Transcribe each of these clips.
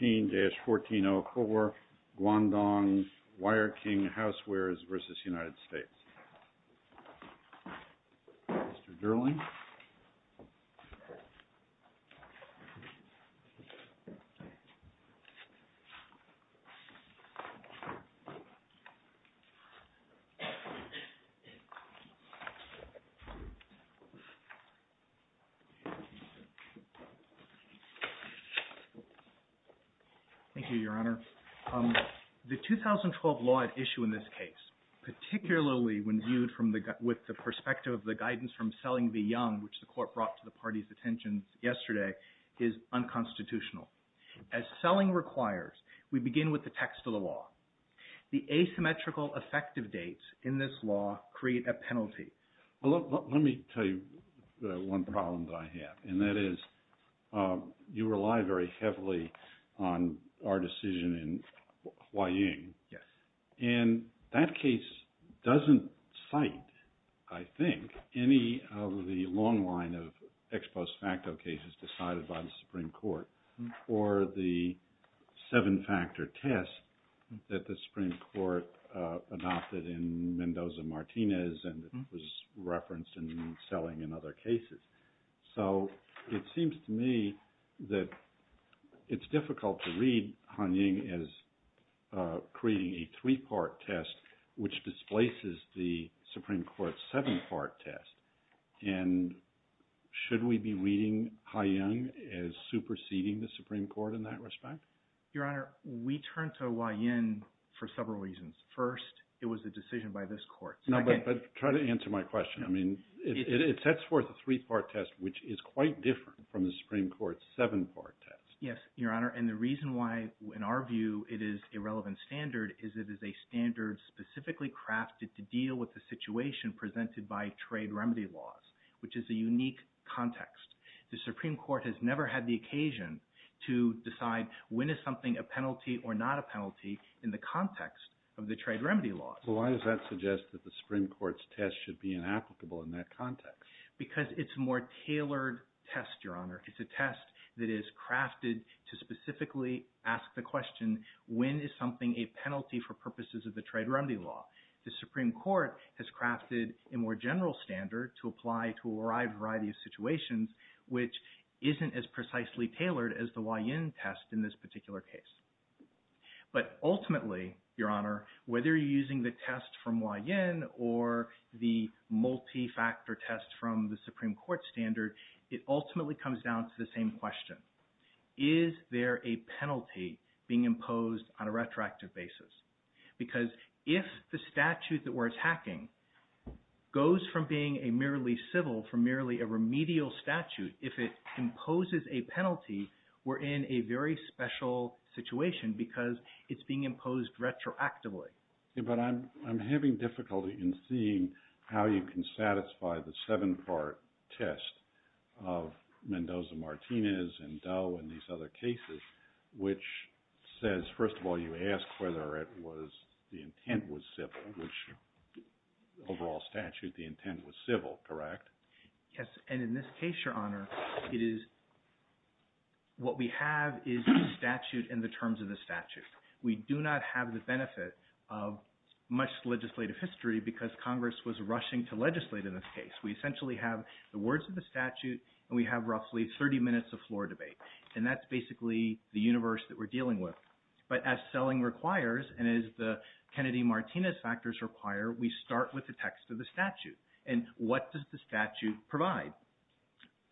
13-1404 GUANGDONG WIREKING HOUSEWARES v. United States Thank you, Your Honor. The 2012 law at issue in this case, particularly when viewed with the perspective of the guidance from Selling v. Young, which the Court brought to the party's attention yesterday, is unconstitutional. As Selling requires, we begin with the text of the law. The asymmetrical effective dates in this law create a penalty. Well, let me tell you one problem that I have, and that is you rely very heavily on our decision in Huaying. And that case doesn't cite, I think, any of the long line of ex post facto cases decided by the Supreme Court or the seven-factor test that the Supreme Court adopted in Mendoza-Martinez and was referenced in Selling and other cases. So it seems to me that it's difficult to read Huaying as creating a three-part test, which displaces the Supreme Court's seven-part test. And should we be reading Huaying as superseding the Supreme Court in that respect? Your Honor, we turned to Huaying for several reasons. First, it was a decision by this Court. No, but try to answer my question. I mean, it sets forth a three-part test, which is quite different from the Supreme Court's seven-part test. Yes, Your Honor, and the reason why, in our view, it is a relevant standard is it is a standard specifically crafted to deal with the situation presented by trade remedy laws, which is a unique context. The Supreme Court has never had the occasion to decide when is something a penalty or not a penalty in the context of the trade remedy laws. So why does that suggest that the Supreme Court's test should be inapplicable in that context? Because it's a more tailored test, Your Honor. It's a test that is crafted to specifically ask the question, when is something a penalty for purposes of the trade remedy law? The Supreme Court has crafted a more general standard to apply to a wide variety of situations, which isn't as precisely tailored as the Huaying test in this particular case. But ultimately, Your Honor, whether you're using the test from Huaying or the multi-factor test from the Supreme Court standard, it ultimately comes down to the same question. Is there a penalty being imposed on a retroactive basis? Because if the statute that we're attacking goes from being a merely civil, from merely a remedial statute, if it imposes a penalty, we're in a very special situation because it's being imposed retroactively. But I'm having difficulty in seeing how you can satisfy the seven-part test of Mendoza-Martinez and Doe and these other cases, which says, first of all, you ask whether it was – the intent was civil, which overall statute the intent was civil, correct? Yes. And in this case, Your Honor, it is – what we have is the statute and the terms of the statute. We do not have the benefit of much legislative history because Congress was rushing to legislate in this case. We essentially have the words of the statute and we have roughly 30 minutes of floor debate. And that's basically the universe that we're dealing with. But as selling requires and as the Kennedy-Martinez factors require, we start with the text of the statute. And what does the statute provide?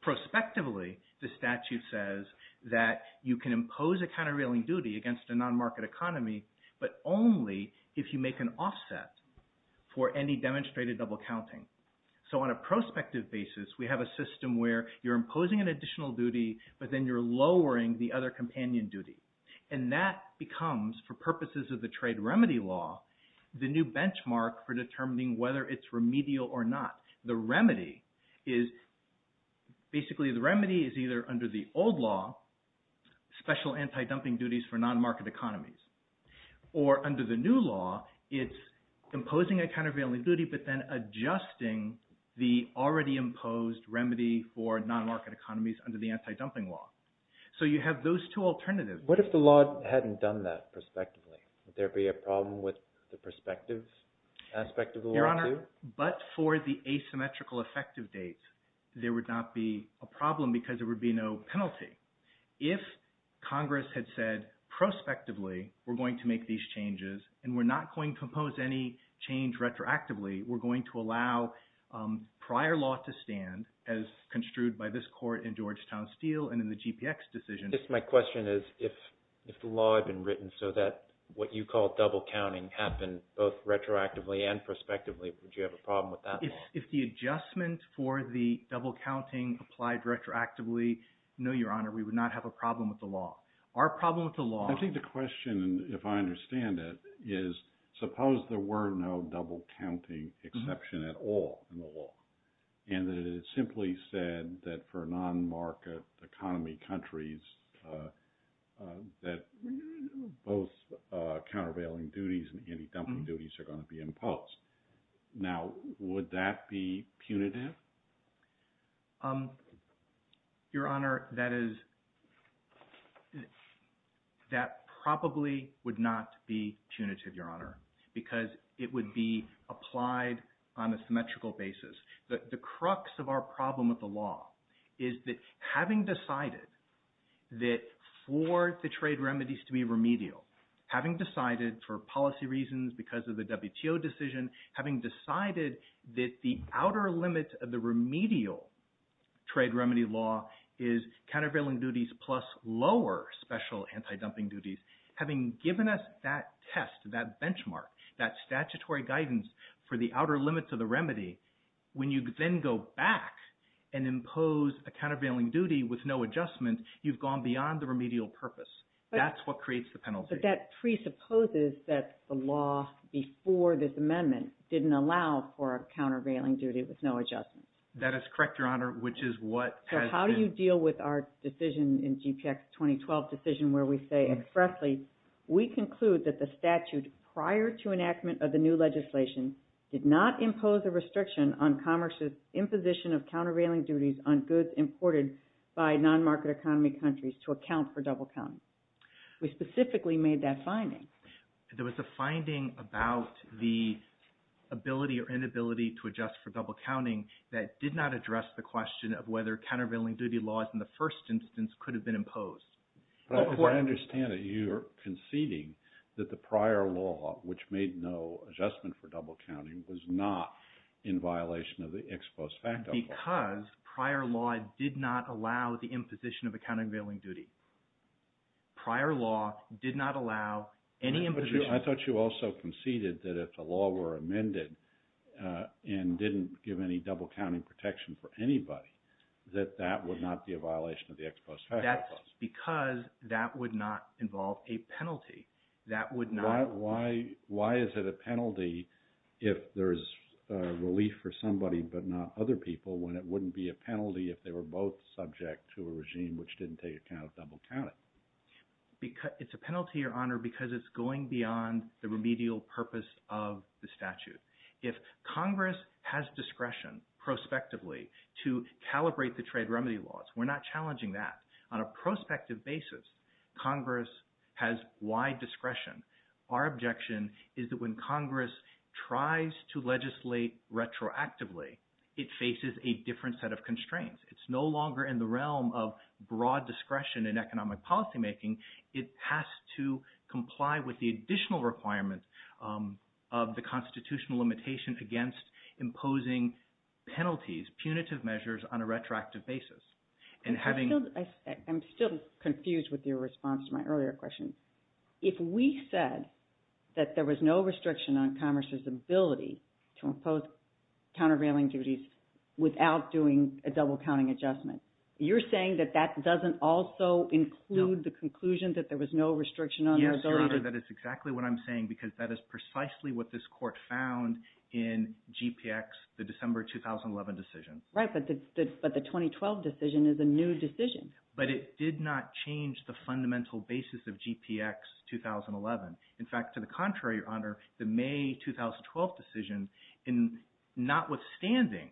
Prospectively, the statute says that you can impose a countervailing duty against a non-market economy, but only if you make an offset for any demonstrated double counting. So on a prospective basis, we have a system where you're imposing an additional duty, but then you're lowering the other companion duty. And that becomes, for purposes of the trade remedy law, the new benchmark for determining whether it's remedial or not. The remedy is – basically, the remedy is either under the old law, special anti-dumping duties for non-market economies. Or under the new law, it's imposing a countervailing duty, but then adjusting the already imposed remedy for non-market economies under the anti-dumping law. So you have those two alternatives. What if the law hadn't done that prospectively? Would there be a problem with the prospective aspect of the law too? But for the asymmetrical effective dates, there would not be a problem because there would be no penalty. If Congress had said, prospectively, we're going to make these changes and we're not going to impose any change retroactively, we're going to allow prior law to stand, as construed by this court in Georgetown Steel and in the GPX decision. My question is if the law had been written so that what you call double counting happened both retroactively and prospectively, would you have a problem with that law? If the adjustment for the double counting applied retroactively, no, Your Honor, we would not have a problem with the law. Our problem with the law – I think the question, if I understand it, is suppose there were no double counting exception at all in the law and that it simply said that for non-market economy countries that both countervailing duties and anti-dumping duties are going to be imposed. Now, would that be punitive? Your Honor, that probably would not be punitive, Your Honor, because it would be applied on a symmetrical basis. The crux of our problem with the law is that having decided that for the trade remedies to be remedial, having decided for policy reasons because of the WTO decision, having decided that the outer limit of the remedial trade remedy law is countervailing duties plus lower special anti-dumping duties, having given us that test, that benchmark, that statutory guidance for the outer limits of the remedy, when you then go back and impose a countervailing duty with no adjustment, you've gone beyond the remedial purpose. That's what creates the penalty. But that presupposes that the law before this amendment didn't allow for a countervailing duty with no adjustment. That is correct, Your Honor, which is what has been – Lastly, we conclude that the statute prior to enactment of the new legislation did not impose a restriction on commerce's imposition of countervailing duties on goods imported by non-market economy countries to account for double counting. We specifically made that finding. There was a finding about the ability or inability to adjust for double counting that did not address the question of whether countervailing duty laws in the first instance could have been imposed. But as I understand it, you're conceding that the prior law, which made no adjustment for double counting, was not in violation of the ex post facto clause. Because prior law did not allow the imposition of a countervailing duty. Prior law did not allow any imposition. I thought you also conceded that if the law were amended and didn't give any double counting protection for anybody, that that would not be a violation of the ex post facto clause. That's because that would not involve a penalty. That would not – Why is it a penalty if there's relief for somebody but not other people when it wouldn't be a penalty if they were both subject to a regime which didn't take account of double counting? It's a penalty, Your Honor, because it's going beyond the remedial purpose of the statute. If Congress has discretion prospectively to calibrate the trade remedy laws, we're not challenging that. On a prospective basis, Congress has wide discretion. Our objection is that when Congress tries to legislate retroactively, it faces a different set of constraints. It's no longer in the realm of broad discretion in economic policymaking. It has to comply with the additional requirements of the constitutional limitation against imposing penalties, punitive measures on a retroactive basis. I'm still confused with your response to my earlier question. If we said that there was no restriction on Congress's ability to impose countervailing duties without doing a double counting adjustment, you're saying that that doesn't also include the conclusion that there was no restriction on the ability to – Yes, Your Honor, that is exactly what I'm saying because that is precisely what this court found in GPX, the December 2011 decision. Right, but the 2012 decision is a new decision. But it did not change the fundamental basis of GPX 2011. In fact, to the contrary, Your Honor, the May 2012 decision, notwithstanding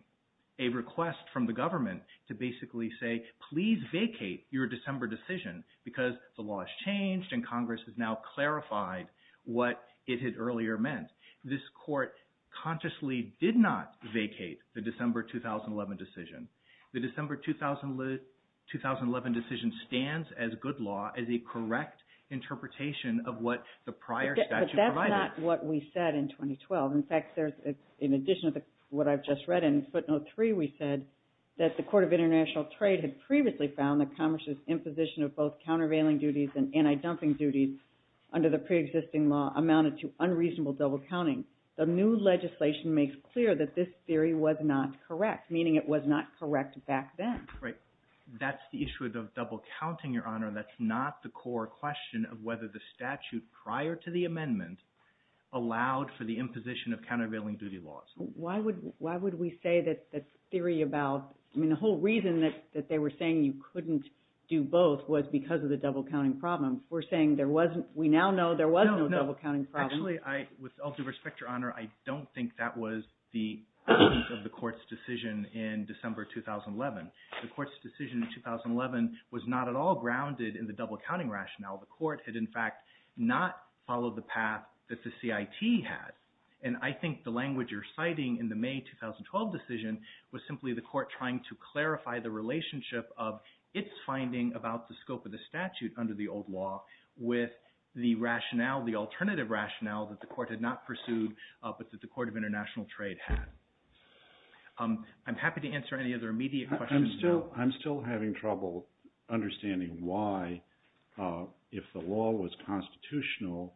a request from the government to basically say, please vacate your December decision because the law has changed and Congress has now clarified what it had earlier meant, this court consciously did not vacate the December 2011 decision. The December 2011 decision stands as good law as a correct interpretation of what the prior statute provided. But that's not what we said in 2012. In fact, in addition to what I've just read in footnote three, we said that the Court of International Trade had previously found that Congress's imposition of both countervailing duties and anti-dumping duties under the preexisting law amounted to unreasonable double counting. The new legislation makes clear that this theory was not correct, meaning it was not correct back then. Right. That's the issue of double counting, Your Honor. That's not the core question of whether the statute prior to the amendment allowed for the imposition of countervailing duty laws. Why would we say that the theory about – I mean, the whole reason that they were saying you couldn't do both was because of the double counting problem. We're saying there wasn't – we now know there was no double counting problem. Actually, with all due respect, Your Honor, I don't think that was the essence of the court's decision in December 2011. The court's decision in 2011 was not at all grounded in the double counting rationale. The court had, in fact, not followed the path that the CIT had. And I think the language you're citing in the May 2012 decision was simply the court trying to clarify the relationship of its finding about the scope of the statute under the old law with the rationale, the alternative rationale that the court had not pursued but that the Court of International Trade had. I'm happy to answer any other immediate questions. I'm still having trouble understanding why, if the law was constitutional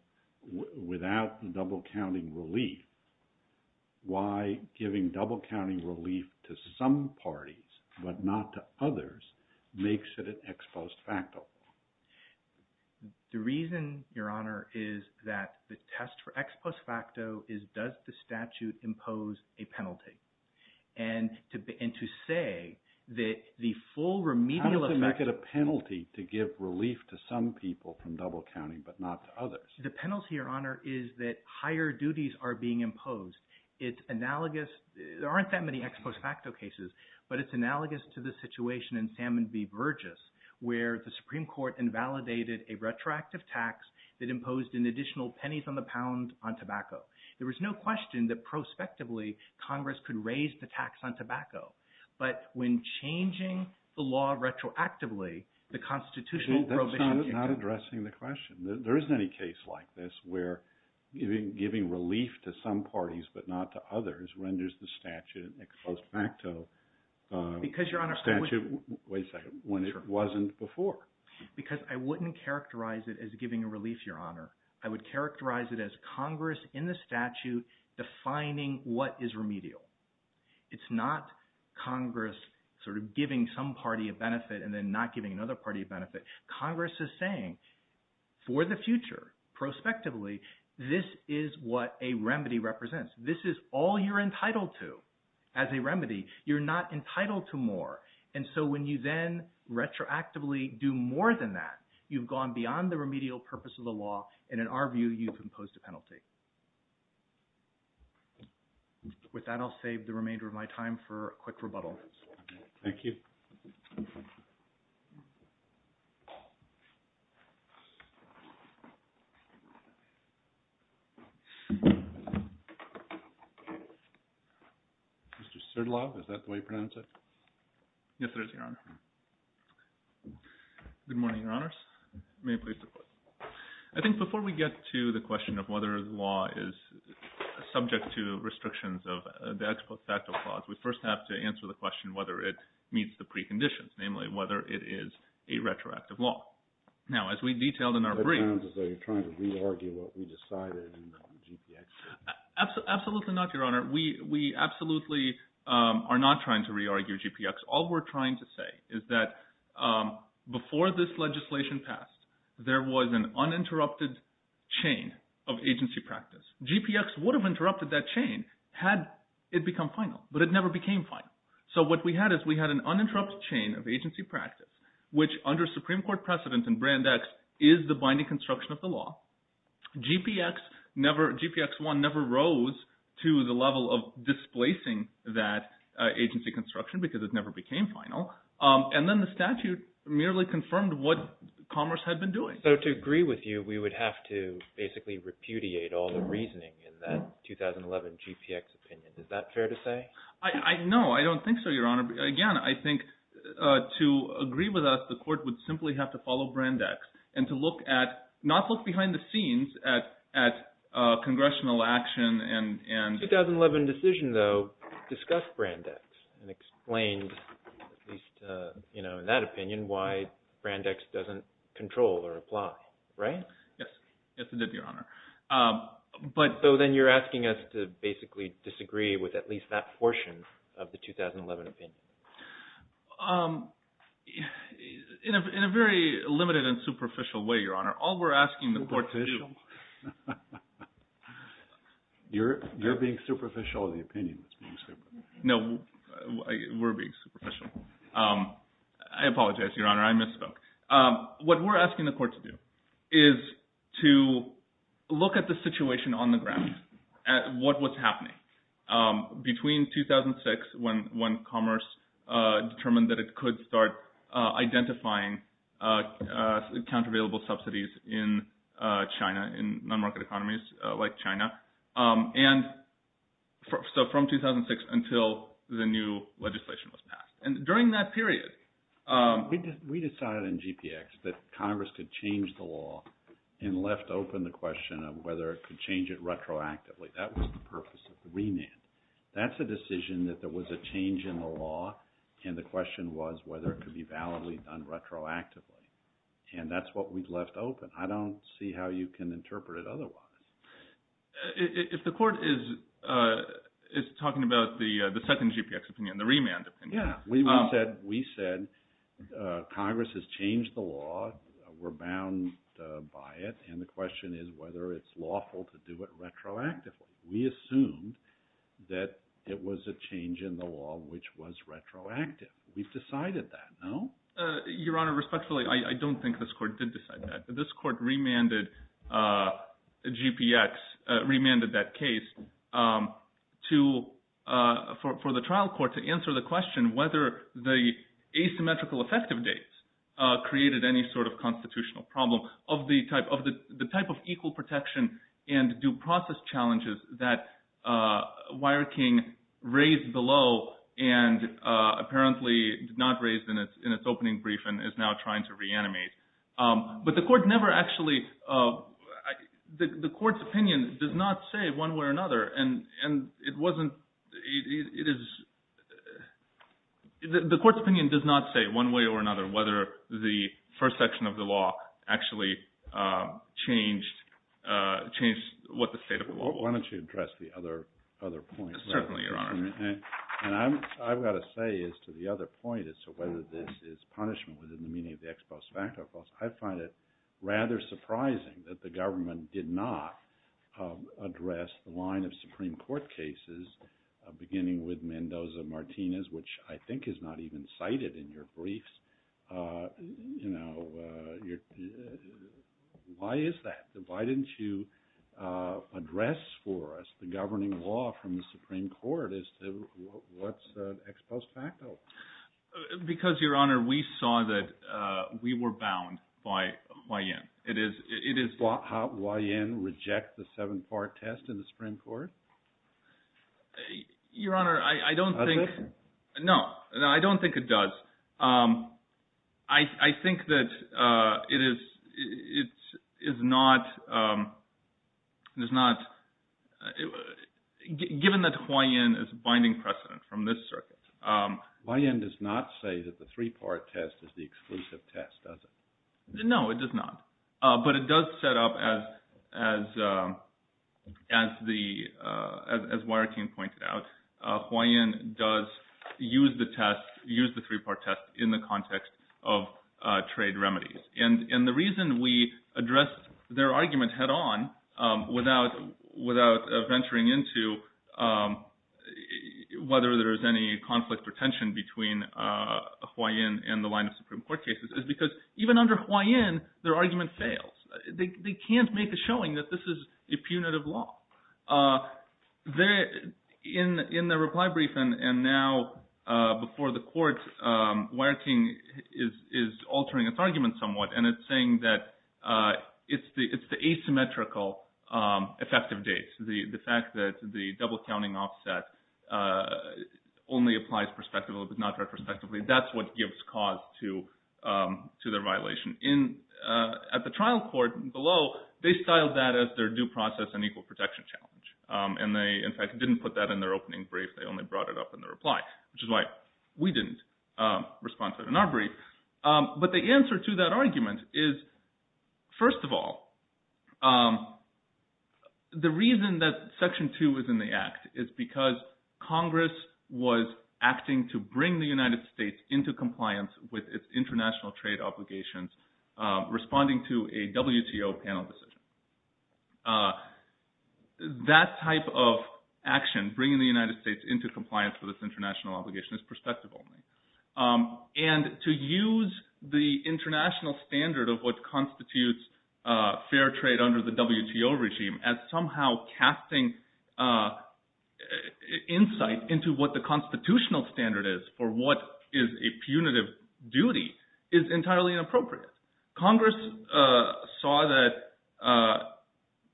without the double counting relief, why giving double counting relief to some parties but not to others makes it an ex post facto law. The reason, Your Honor, is that the test for ex post facto is does the statute impose a penalty? And to say that the full remedial effect – How does it make it a penalty to give relief to some people from double counting but not to others? The penalty, Your Honor, is that higher duties are being imposed. It's analogous – there aren't that many ex post facto cases, but it's analogous to the situation in Salmon v. Burgess where the Supreme Court invalidated a retroactive tax that imposed an additional pennies on the pound on tobacco. There was no question that prospectively Congress could raise the tax on tobacco. But when changing the law retroactively, the constitutional provision – That's not addressing the question. There isn't any case like this where giving relief to some parties but not to others renders the statute an ex post facto statute when it wasn't before. Because I wouldn't characterize it as giving a relief, Your Honor. I would characterize it as Congress in the statute defining what is remedial. It's not Congress sort of giving some party a benefit and then not giving another party a benefit. Congress is saying for the future, prospectively, this is what a remedy represents. This is all you're entitled to as a remedy. You're not entitled to more. And so when you then retroactively do more than that, you've gone beyond the remedial purpose of the law, and in our view, you've imposed a penalty. With that, I'll save the remainder of my time for a quick rebuttal. Thank you. Mr. Serdlov, is that the way you pronounce it? Yes, it is, Your Honor. Good morning, Your Honors. May it please the Court. I think before we get to the question of whether the law is subject to restrictions of the ex post facto clause, we first have to answer the question whether it meets the preconditions, namely whether it is a retroactive law. Now, as we detailed in our brief— It sounds as though you're trying to re-argue what we decided in GPX. Absolutely not, Your Honor. We absolutely are not trying to re-argue GPX. All we're trying to say is that before this legislation passed, there was an uninterrupted chain of agency practice. GPX would have interrupted that chain had it become final, but it never became final. So what we had is we had an uninterrupted chain of agency practice, which under Supreme Court precedent in Brand X is the binding construction of the law. GPX1 never rose to the level of displacing that agency construction because it never became final. And then the statute merely confirmed what Commerce had been doing. So to agree with you, we would have to basically repudiate all the reasoning in that 2011 GPX opinion. Is that fair to say? No, I don't think so, Your Honor. Again, I think to agree with us, the court would simply have to follow Brand X and to look at—not look behind the scenes at congressional action and— The 2011 decision, though, discussed Brand X and explained, at least in that opinion, why Brand X doesn't control or apply, right? Yes, it did, Your Honor. So then you're asking us to basically disagree with at least that portion of the 2011 opinion? In a very limited and superficial way, Your Honor. All we're asking the court to do— You're being superficial in the opinion that's being superficial. No, we're being superficial. I apologize, Your Honor. I misspoke. What we're asking the court to do is to look at the situation on the ground, at what was happening. Between 2006 when Commerce determined that it could start identifying countervailable subsidies in China, in non-market economies like China, and so from 2006 until the new legislation was passed. And during that period— We decided in GPX that Congress could change the law and left open the question of whether it could change it retroactively. That was the purpose of the remand. That's a decision that there was a change in the law, and the question was whether it could be validly done retroactively. And that's what we left open. I don't see how you can interpret it otherwise. If the court is talking about the second GPX opinion, the remand opinion— Yeah, we said Congress has changed the law, we're bound by it, and the question is whether it's lawful to do it retroactively. We assumed that it was a change in the law which was retroactive. We've decided that, no? Your Honor, respectfully, I don't think this court did decide that. This court remanded GPX—remanded that case for the trial court to answer the question whether the asymmetrical effective dates created any sort of constitutional problem of the type of equal protection and due process challenges that WireKing raised below and apparently did not raise in its opening brief and is now trying to reanimate. But the court never actually—the court's opinion does not say one way or another, and it wasn't—it is—the court's opinion does not say one way or another whether the first section of the law actually changed what the state of the law was. Why don't you address the other point? Certainly, Your Honor. And I've got to say as to the other point as to whether this is punishment within the meaning of the ex post facto clause, I find it rather surprising that the government did not address the line of Supreme Court cases beginning with Mendoza-Martinez, which I think is not even cited in your briefs. You know, why is that? Why didn't you address for us the governing law from the Supreme Court as to what's ex post facto? Because, Your Honor, we saw that we were bound by Huayen. Does Huayen reject the seven-part test in the Supreme Court? Your Honor, I don't think— Does it? No. No, I don't think it does. I think that it is not—given that Huayen is binding precedent from this circuit— Huayen does not say that the three-part test is the exclusive test, does it? No, it does not. But it does set up, as Huayen pointed out, Huayen does use the test, use the three-part test in the context of trade remedies. And the reason we addressed their argument head-on without venturing into whether there is any conflict or tension between Huayen and the line of Supreme Court cases is because even under Huayen, their argument fails. They can't make a showing that this is a punitive law. In the reply brief and now before the court, Wierking is altering its argument somewhat, and it's saying that it's the asymmetrical effective dates, the fact that the double-counting offset only applies prospectively but not retrospectively. That's what gives cause to the violation. At the trial court below, they styled that as their due process and equal protection challenge. And they, in fact, didn't put that in their opening brief. They only brought it up in their reply, which is why we didn't respond to it in our brief. But the answer to that argument is, first of all, the reason that Section 2 is in the act is because Congress was acting to bring the United States into compliance with its international trade obligations, responding to a WTO panel decision. That type of action, bringing the United States into compliance with its international obligations, is prospective only. And to use the international standard of what constitutes fair trade under the WTO regime as somehow casting insight into what the constitutional standard is for what is a punitive duty is entirely inappropriate. Congress saw that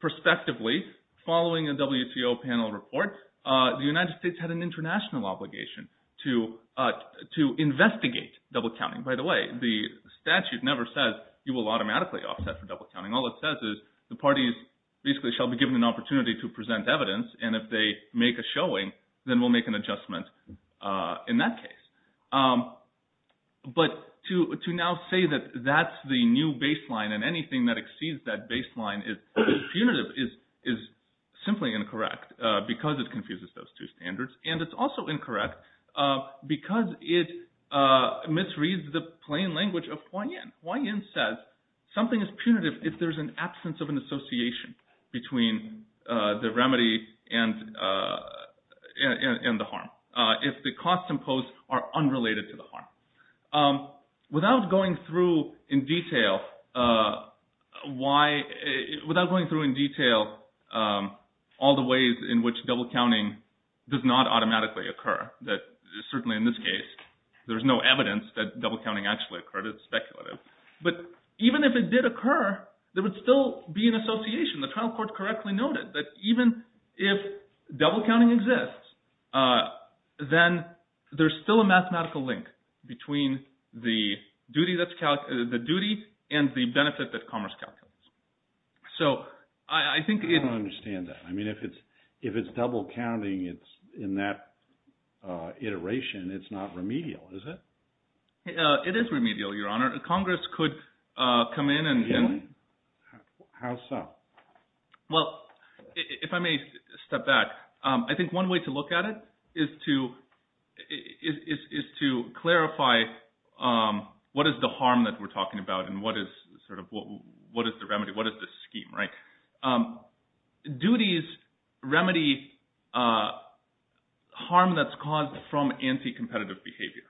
prospectively, following a WTO panel report, the United States had an international obligation to investigate double-counting. By the way, the statute never says you will automatically offset for double-counting. All it says is the parties basically shall be given an opportunity to present evidence, and if they make a showing, then we'll make an adjustment in that case. But to now say that that's the new baseline and anything that exceeds that baseline is punitive is simply incorrect because it confuses those two standards. And it's also incorrect because it misreads the plain language of Huaiyin. Huaiyin says something is punitive if there's an absence of an association between the remedy and the harm, if the costs imposed are unrelated to the harm. Without going through in detail all the ways in which double-counting does not automatically occur, certainly in this case, there's no evidence that double-counting actually occurred. It's speculative. But even if it did occur, there would still be an association. The trial court correctly noted that even if double-counting exists, then there's still a mathematical link between the duty and the benefit that commerce calculates. So I think it— I don't understand that. I mean, if it's double-counting in that iteration, it's not remedial, is it? It is remedial, Your Honor. Congress could come in and— How so? Well, if I may step back, I think one way to look at it is to clarify what is the harm that we're talking about and what is the remedy, what is the scheme, right? Duties remedy harm that's caused from anti-competitive behavior.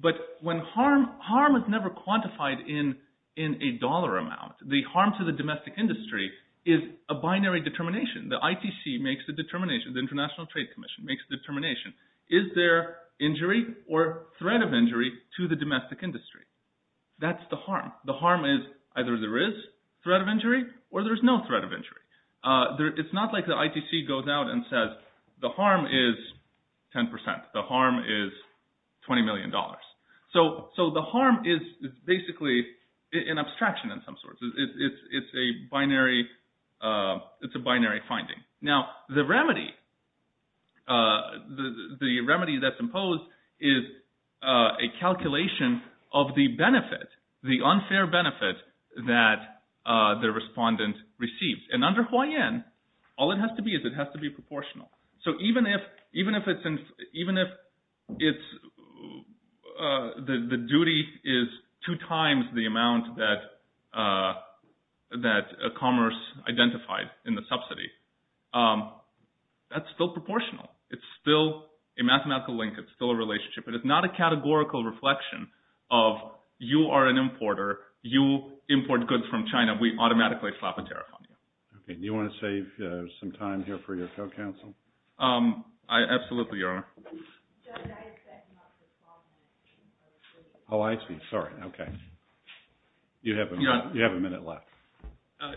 But when harm—harm is never quantified in a dollar amount. The harm to the domestic industry is a binary determination. The ITC makes a determination. The International Trade Commission makes a determination. Is there injury or threat of injury to the domestic industry? That's the harm. The harm is either there is threat of injury or there's no threat of injury. It's not like the ITC goes out and says the harm is 10 percent, the harm is $20 million. So the harm is basically an abstraction of some sort. It's a binary finding. Now, the remedy that's imposed is a calculation of the benefit, the unfair benefit that the respondent receives. And under Hawaiian, all it has to be is it has to be proportional. So even if the duty is two times the amount that commerce identified in the subsidy, that's still proportional. It's still a mathematical link. It's still a relationship. But it's not a categorical reflection of you are an importer. You import goods from China. We automatically slap a tariff on you. Okay. Do you want to save some time here for your co-counsel? I absolutely, Your Honor. Judge, I expect not to respond. Oh, I see. Sorry. Okay. You have a minute left.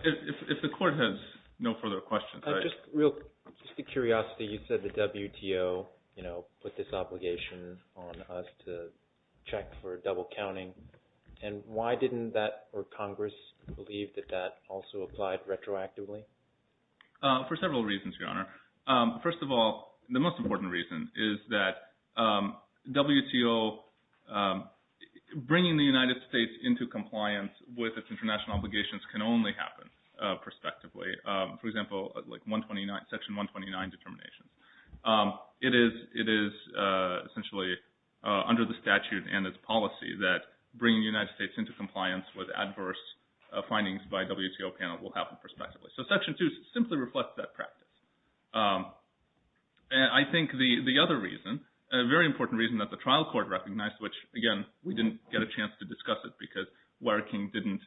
If the Court has no further questions. Just a curiosity. You said the WTO put this obligation on us to check for double counting. And why didn't that or Congress believe that that also applied retroactively? For several reasons, Your Honor. First of all, the most important reason is that WTO bringing the United States into compliance with its international obligations can only happen prospectively. For example, like Section 129 determinations. It is essentially under the statute and its policy that bringing the United States into compliance with adverse findings by WTO panel will happen prospectively. So Section 2 simply reflects that practice. And I think the other reason, a very important reason that the trial court recognized, which, again, we didn't get a chance to discuss it because Warren King didn't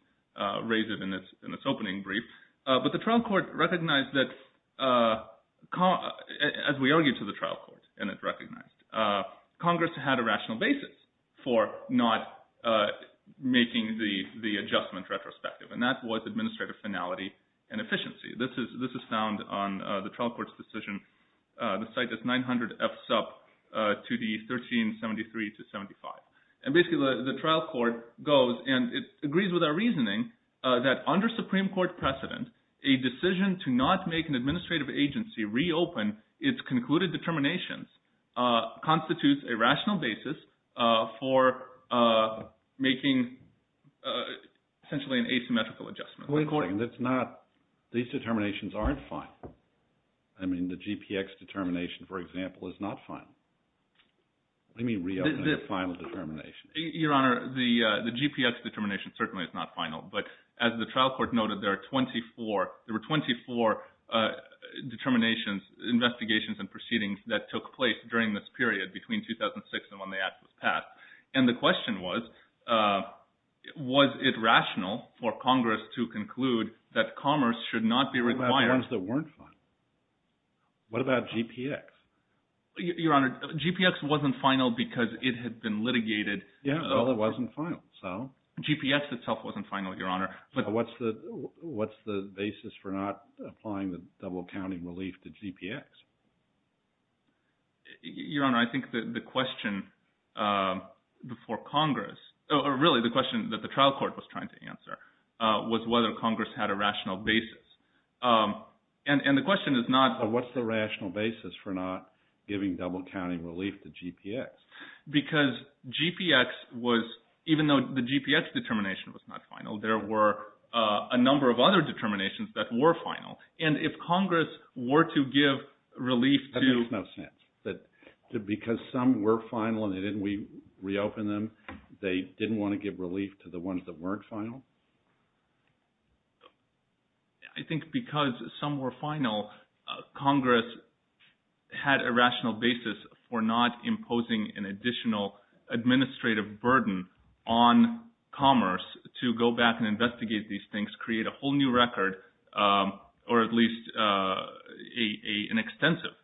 raise it in its opening brief. But the trial court recognized that, as we argued to the trial court and it recognized, Congress had a rational basis for not making the adjustment retrospective. And that was administrative finality and efficiency. This is found on the trial court's decision. The site is 900 F sub to the 1373 to 75. And basically the trial court goes and it agrees with our reasoning that under Supreme Court precedent, a decision to not make an administrative agency reopen its concluded determinations constitutes a rational basis for making essentially an asymmetrical adjustment. These determinations aren't final. I mean the GPX determination, for example, is not final. Let me reopen the final determination. Your Honor, the GPX determination certainly is not final. But as the trial court noted, there are 24. There were 24 determinations, investigations, and proceedings that took place during this period between 2006 and when the act was passed. And the question was, was it rational for Congress to conclude that commerce should not be required? What about the ones that weren't final? What about GPX? Your Honor, GPX wasn't final because it had been litigated. Well, it wasn't final, so? GPX itself wasn't final, Your Honor. What's the basis for not applying the double-counting relief to GPX? Your Honor, I think the question before Congress – or really the question that the trial court was trying to answer was whether Congress had a rational basis. And the question is not – What's the rational basis for not giving double-counting relief to GPX? Because GPX was – even though the GPX determination was not final, there were a number of other determinations that were final. And if Congress were to give relief to – That makes no sense. Because some were final and we reopened them, they didn't want to give relief to the ones that weren't final? I think because some were final, Congress had a rational basis for not imposing an additional administrative burden on commerce to go back and investigate these things, create a whole new record, or at least an extensive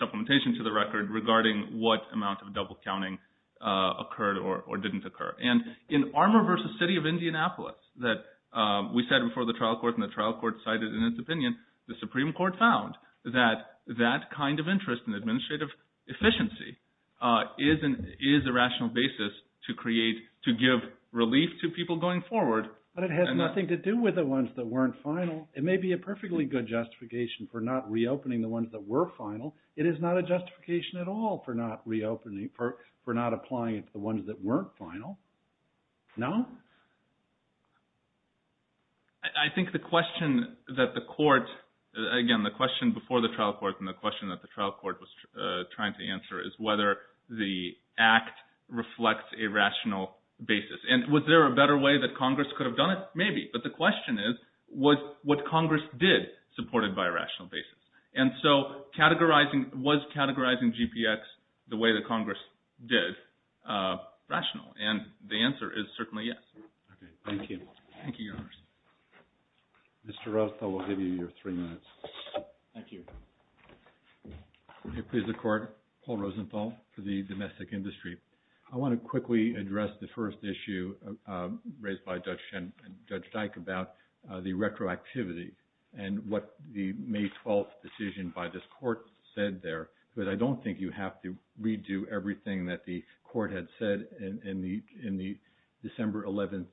supplementation to the record regarding what amount of double-counting occurred or didn't occur. And in Armour v. City of Indianapolis that we said before the trial court and the trial court cited in its opinion, the Supreme Court found that that kind of interest in administrative efficiency is a rational basis to create – to give relief to people going forward. But it has nothing to do with the ones that weren't final. It may be a perfectly good justification for not reopening the ones that were final. It is not a justification at all for not reopening – for not applying it to the ones that weren't final. No? I think the question that the court – again, the question before the trial court and the question that the trial court was trying to answer is whether the act reflects a rational basis. And was there a better way that Congress could have done it? Maybe. But the question is, was what Congress did supported by a rational basis? And so categorizing – was categorizing GPX the way that Congress did rational? And the answer is certainly yes. Okay. Thank you. Thank you, Your Honor. Mr. Rosenthal, we'll give you your three minutes. Thank you. Okay. Please, the Court. Paul Rosenthal for the domestic industry. I want to quickly address the first issue raised by Judge Schen – Judge Dyke about the retroactivity and what the May 12th decision by this court said there. Because I don't think you have to redo everything that the court had said in the – in the December 11th.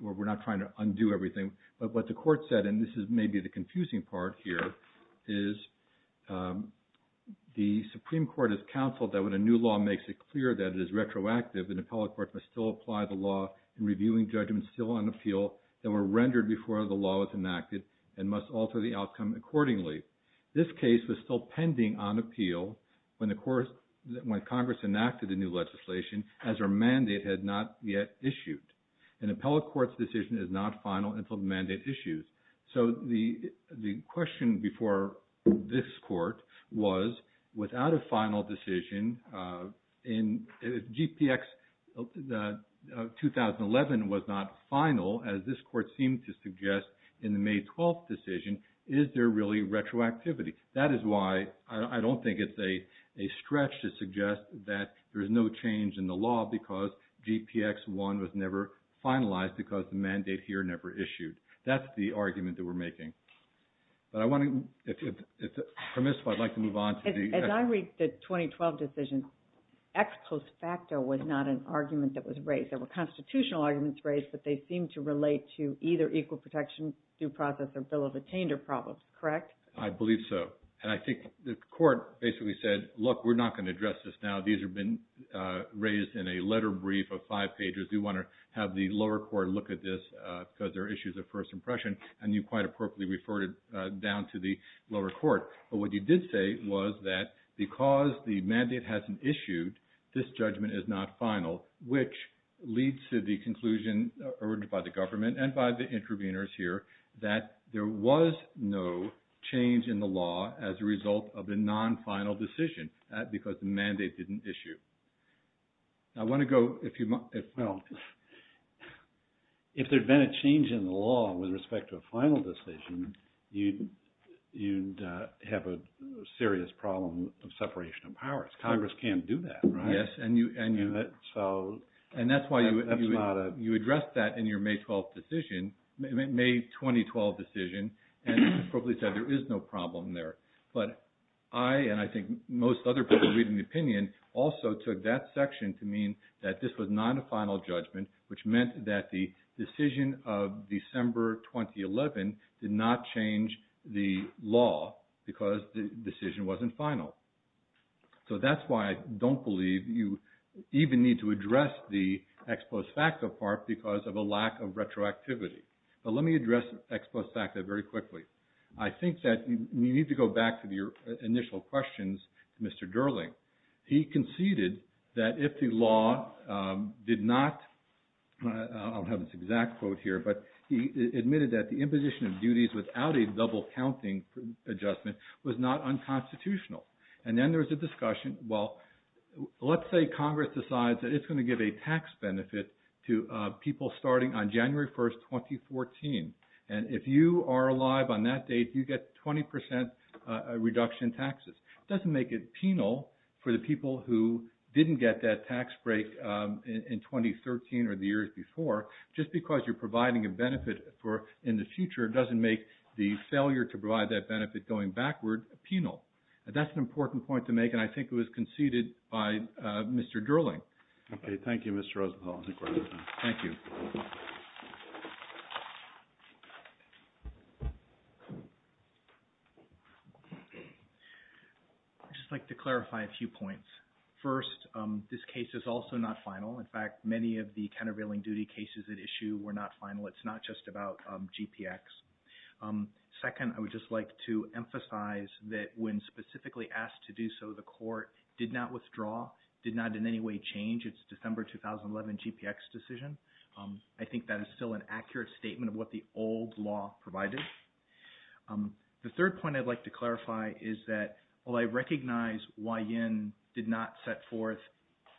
We're not trying to undo everything. But what the court said – and this is maybe the confusing part here – is the Supreme Court has counseled that when a new law makes it clear that it is retroactive, an appellate court must still apply the law in reviewing judgments still on appeal that were rendered before the law was enacted and must alter the outcome accordingly. This case was still pending on appeal when the – when Congress enacted the new legislation as our mandate had not yet issued. An appellate court's decision is not final until the mandate issues. So the question before this court was, without a final decision, if GPX 2011 was not final, as this court seemed to suggest in the May 12th decision, is there really retroactivity? That is why I don't think it's a stretch to suggest that there's no change in the law because GPX 1 was never finalized because the mandate here never issued. That's the argument that we're making. But I want to – if it's permissible, I'd like to move on to the – As I read the 2012 decision, ex post facto was not an argument that was raised. There were constitutional arguments raised, but they seemed to relate to either equal protection, due process, or bill of attainder problems, correct? I believe so. And I think the court basically said, look, we're not going to address this now. These have been raised in a letter brief of five pages. We want to have the lower court look at this because there are issues of first impression, and you quite appropriately referred it down to the lower court. But what you did say was that because the mandate hasn't issued, this judgment is not final, which leads to the conclusion heard by the government and by the interveners here that there was no change in the law as a result of the non-final decision because the mandate didn't issue. I want to go – well, if there had been a change in the law with respect to a final decision, you'd have a serious problem of separation of powers. Congress can't do that, right? Yes. And that's why you addressed that in your May 12 decision, May 2012 decision, and appropriately said there is no problem there. But I, and I think most other people reading the opinion, also took that section to mean that this was not a final judgment, which meant that the decision of December 2011 did not change the law because the decision wasn't final. So that's why I don't believe you even need to address the ex post facto part because of a lack of retroactivity. But let me address ex post facto very quickly. I think that you need to go back to your initial questions to Mr. Durling. He conceded that if the law did not – I'll have this exact quote here, but he admitted that the imposition of duties without a double counting adjustment was not unconstitutional. And then there was a discussion, well, let's say Congress decides that it's going to give a tax benefit to people starting on January 1, 2014. And if you are alive on that date, you get 20% reduction in taxes. It doesn't make it penal for the people who didn't get that tax break in 2013 or the years before. Just because you're providing a benefit in the future doesn't make the failure to provide that benefit going backward penal. That's an important point to make, and I think it was conceded by Mr. Durling. Okay. Thank you, Mr. Rosenthal. Thank you. I'd just like to clarify a few points. First, this case is also not final. In fact, many of the countervailing duty cases at issue were not final. It's not just about GPX. Second, I would just like to emphasize that when specifically asked to do so, the court did not withdraw, did not in any way change its December 2011 GPX decision. I think that is still an accurate statement of what the old law provided. The third point I'd like to clarify is that while I recognize Wai-Yin did not set forth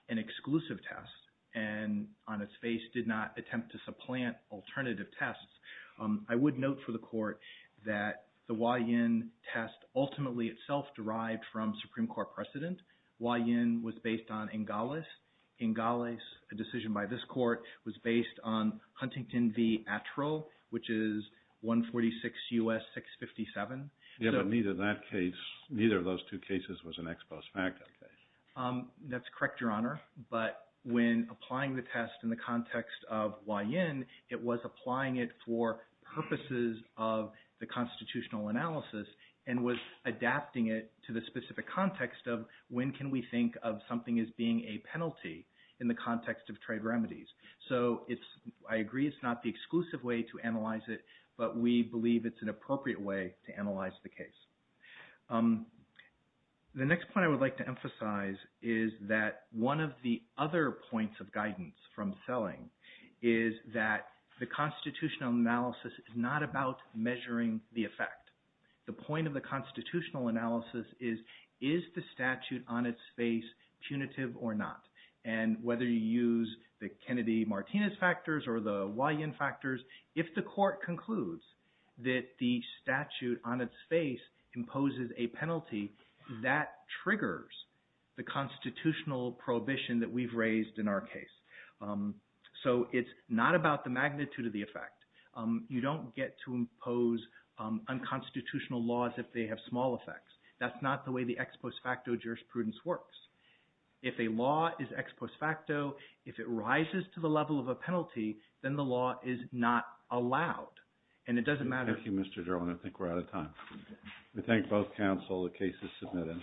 an exclusive test and on its face did not attempt to supplant alternative tests, I would note for the court that the Wai-Yin test ultimately itself derived from Supreme Court precedent. Wai-Yin was based on NGOLES. NGOLES, a decision by this court, was based on Huntington v. Attrell, which is 146 U.S. 657. Yes, but neither of those two cases was an ex post facto case. That's correct, Your Honor. But when applying the test in the context of Wai-Yin, it was applying it for purposes of the constitutional analysis and was adapting it to the specific context of when can we think of something as being a penalty in the context of trade remedies. So I agree it's not the exclusive way to analyze it, but we believe it's an appropriate way to analyze the case. The next point I would like to emphasize is that one of the other points of guidance from Selling is that the constitutional analysis is not about measuring the effect. The point of the constitutional analysis is, is the statute on its face punitive or not? And whether you use the Kennedy-Martinez factors or the Wai-Yin factors, if the court concludes that the statute on its face imposes a penalty, that triggers the constitutional prohibition that we've raised in our case. So it's not about the magnitude of the effect. You don't get to impose unconstitutional laws if they have small effects. That's not the way the ex post facto jurisprudence works. If a law is ex post facto, if it rises to the level of a penalty, then the law is not allowed. And it doesn't matter. Thank you, Mr. Gerwin. I think we're out of time. We thank both counsel. The case is submitted.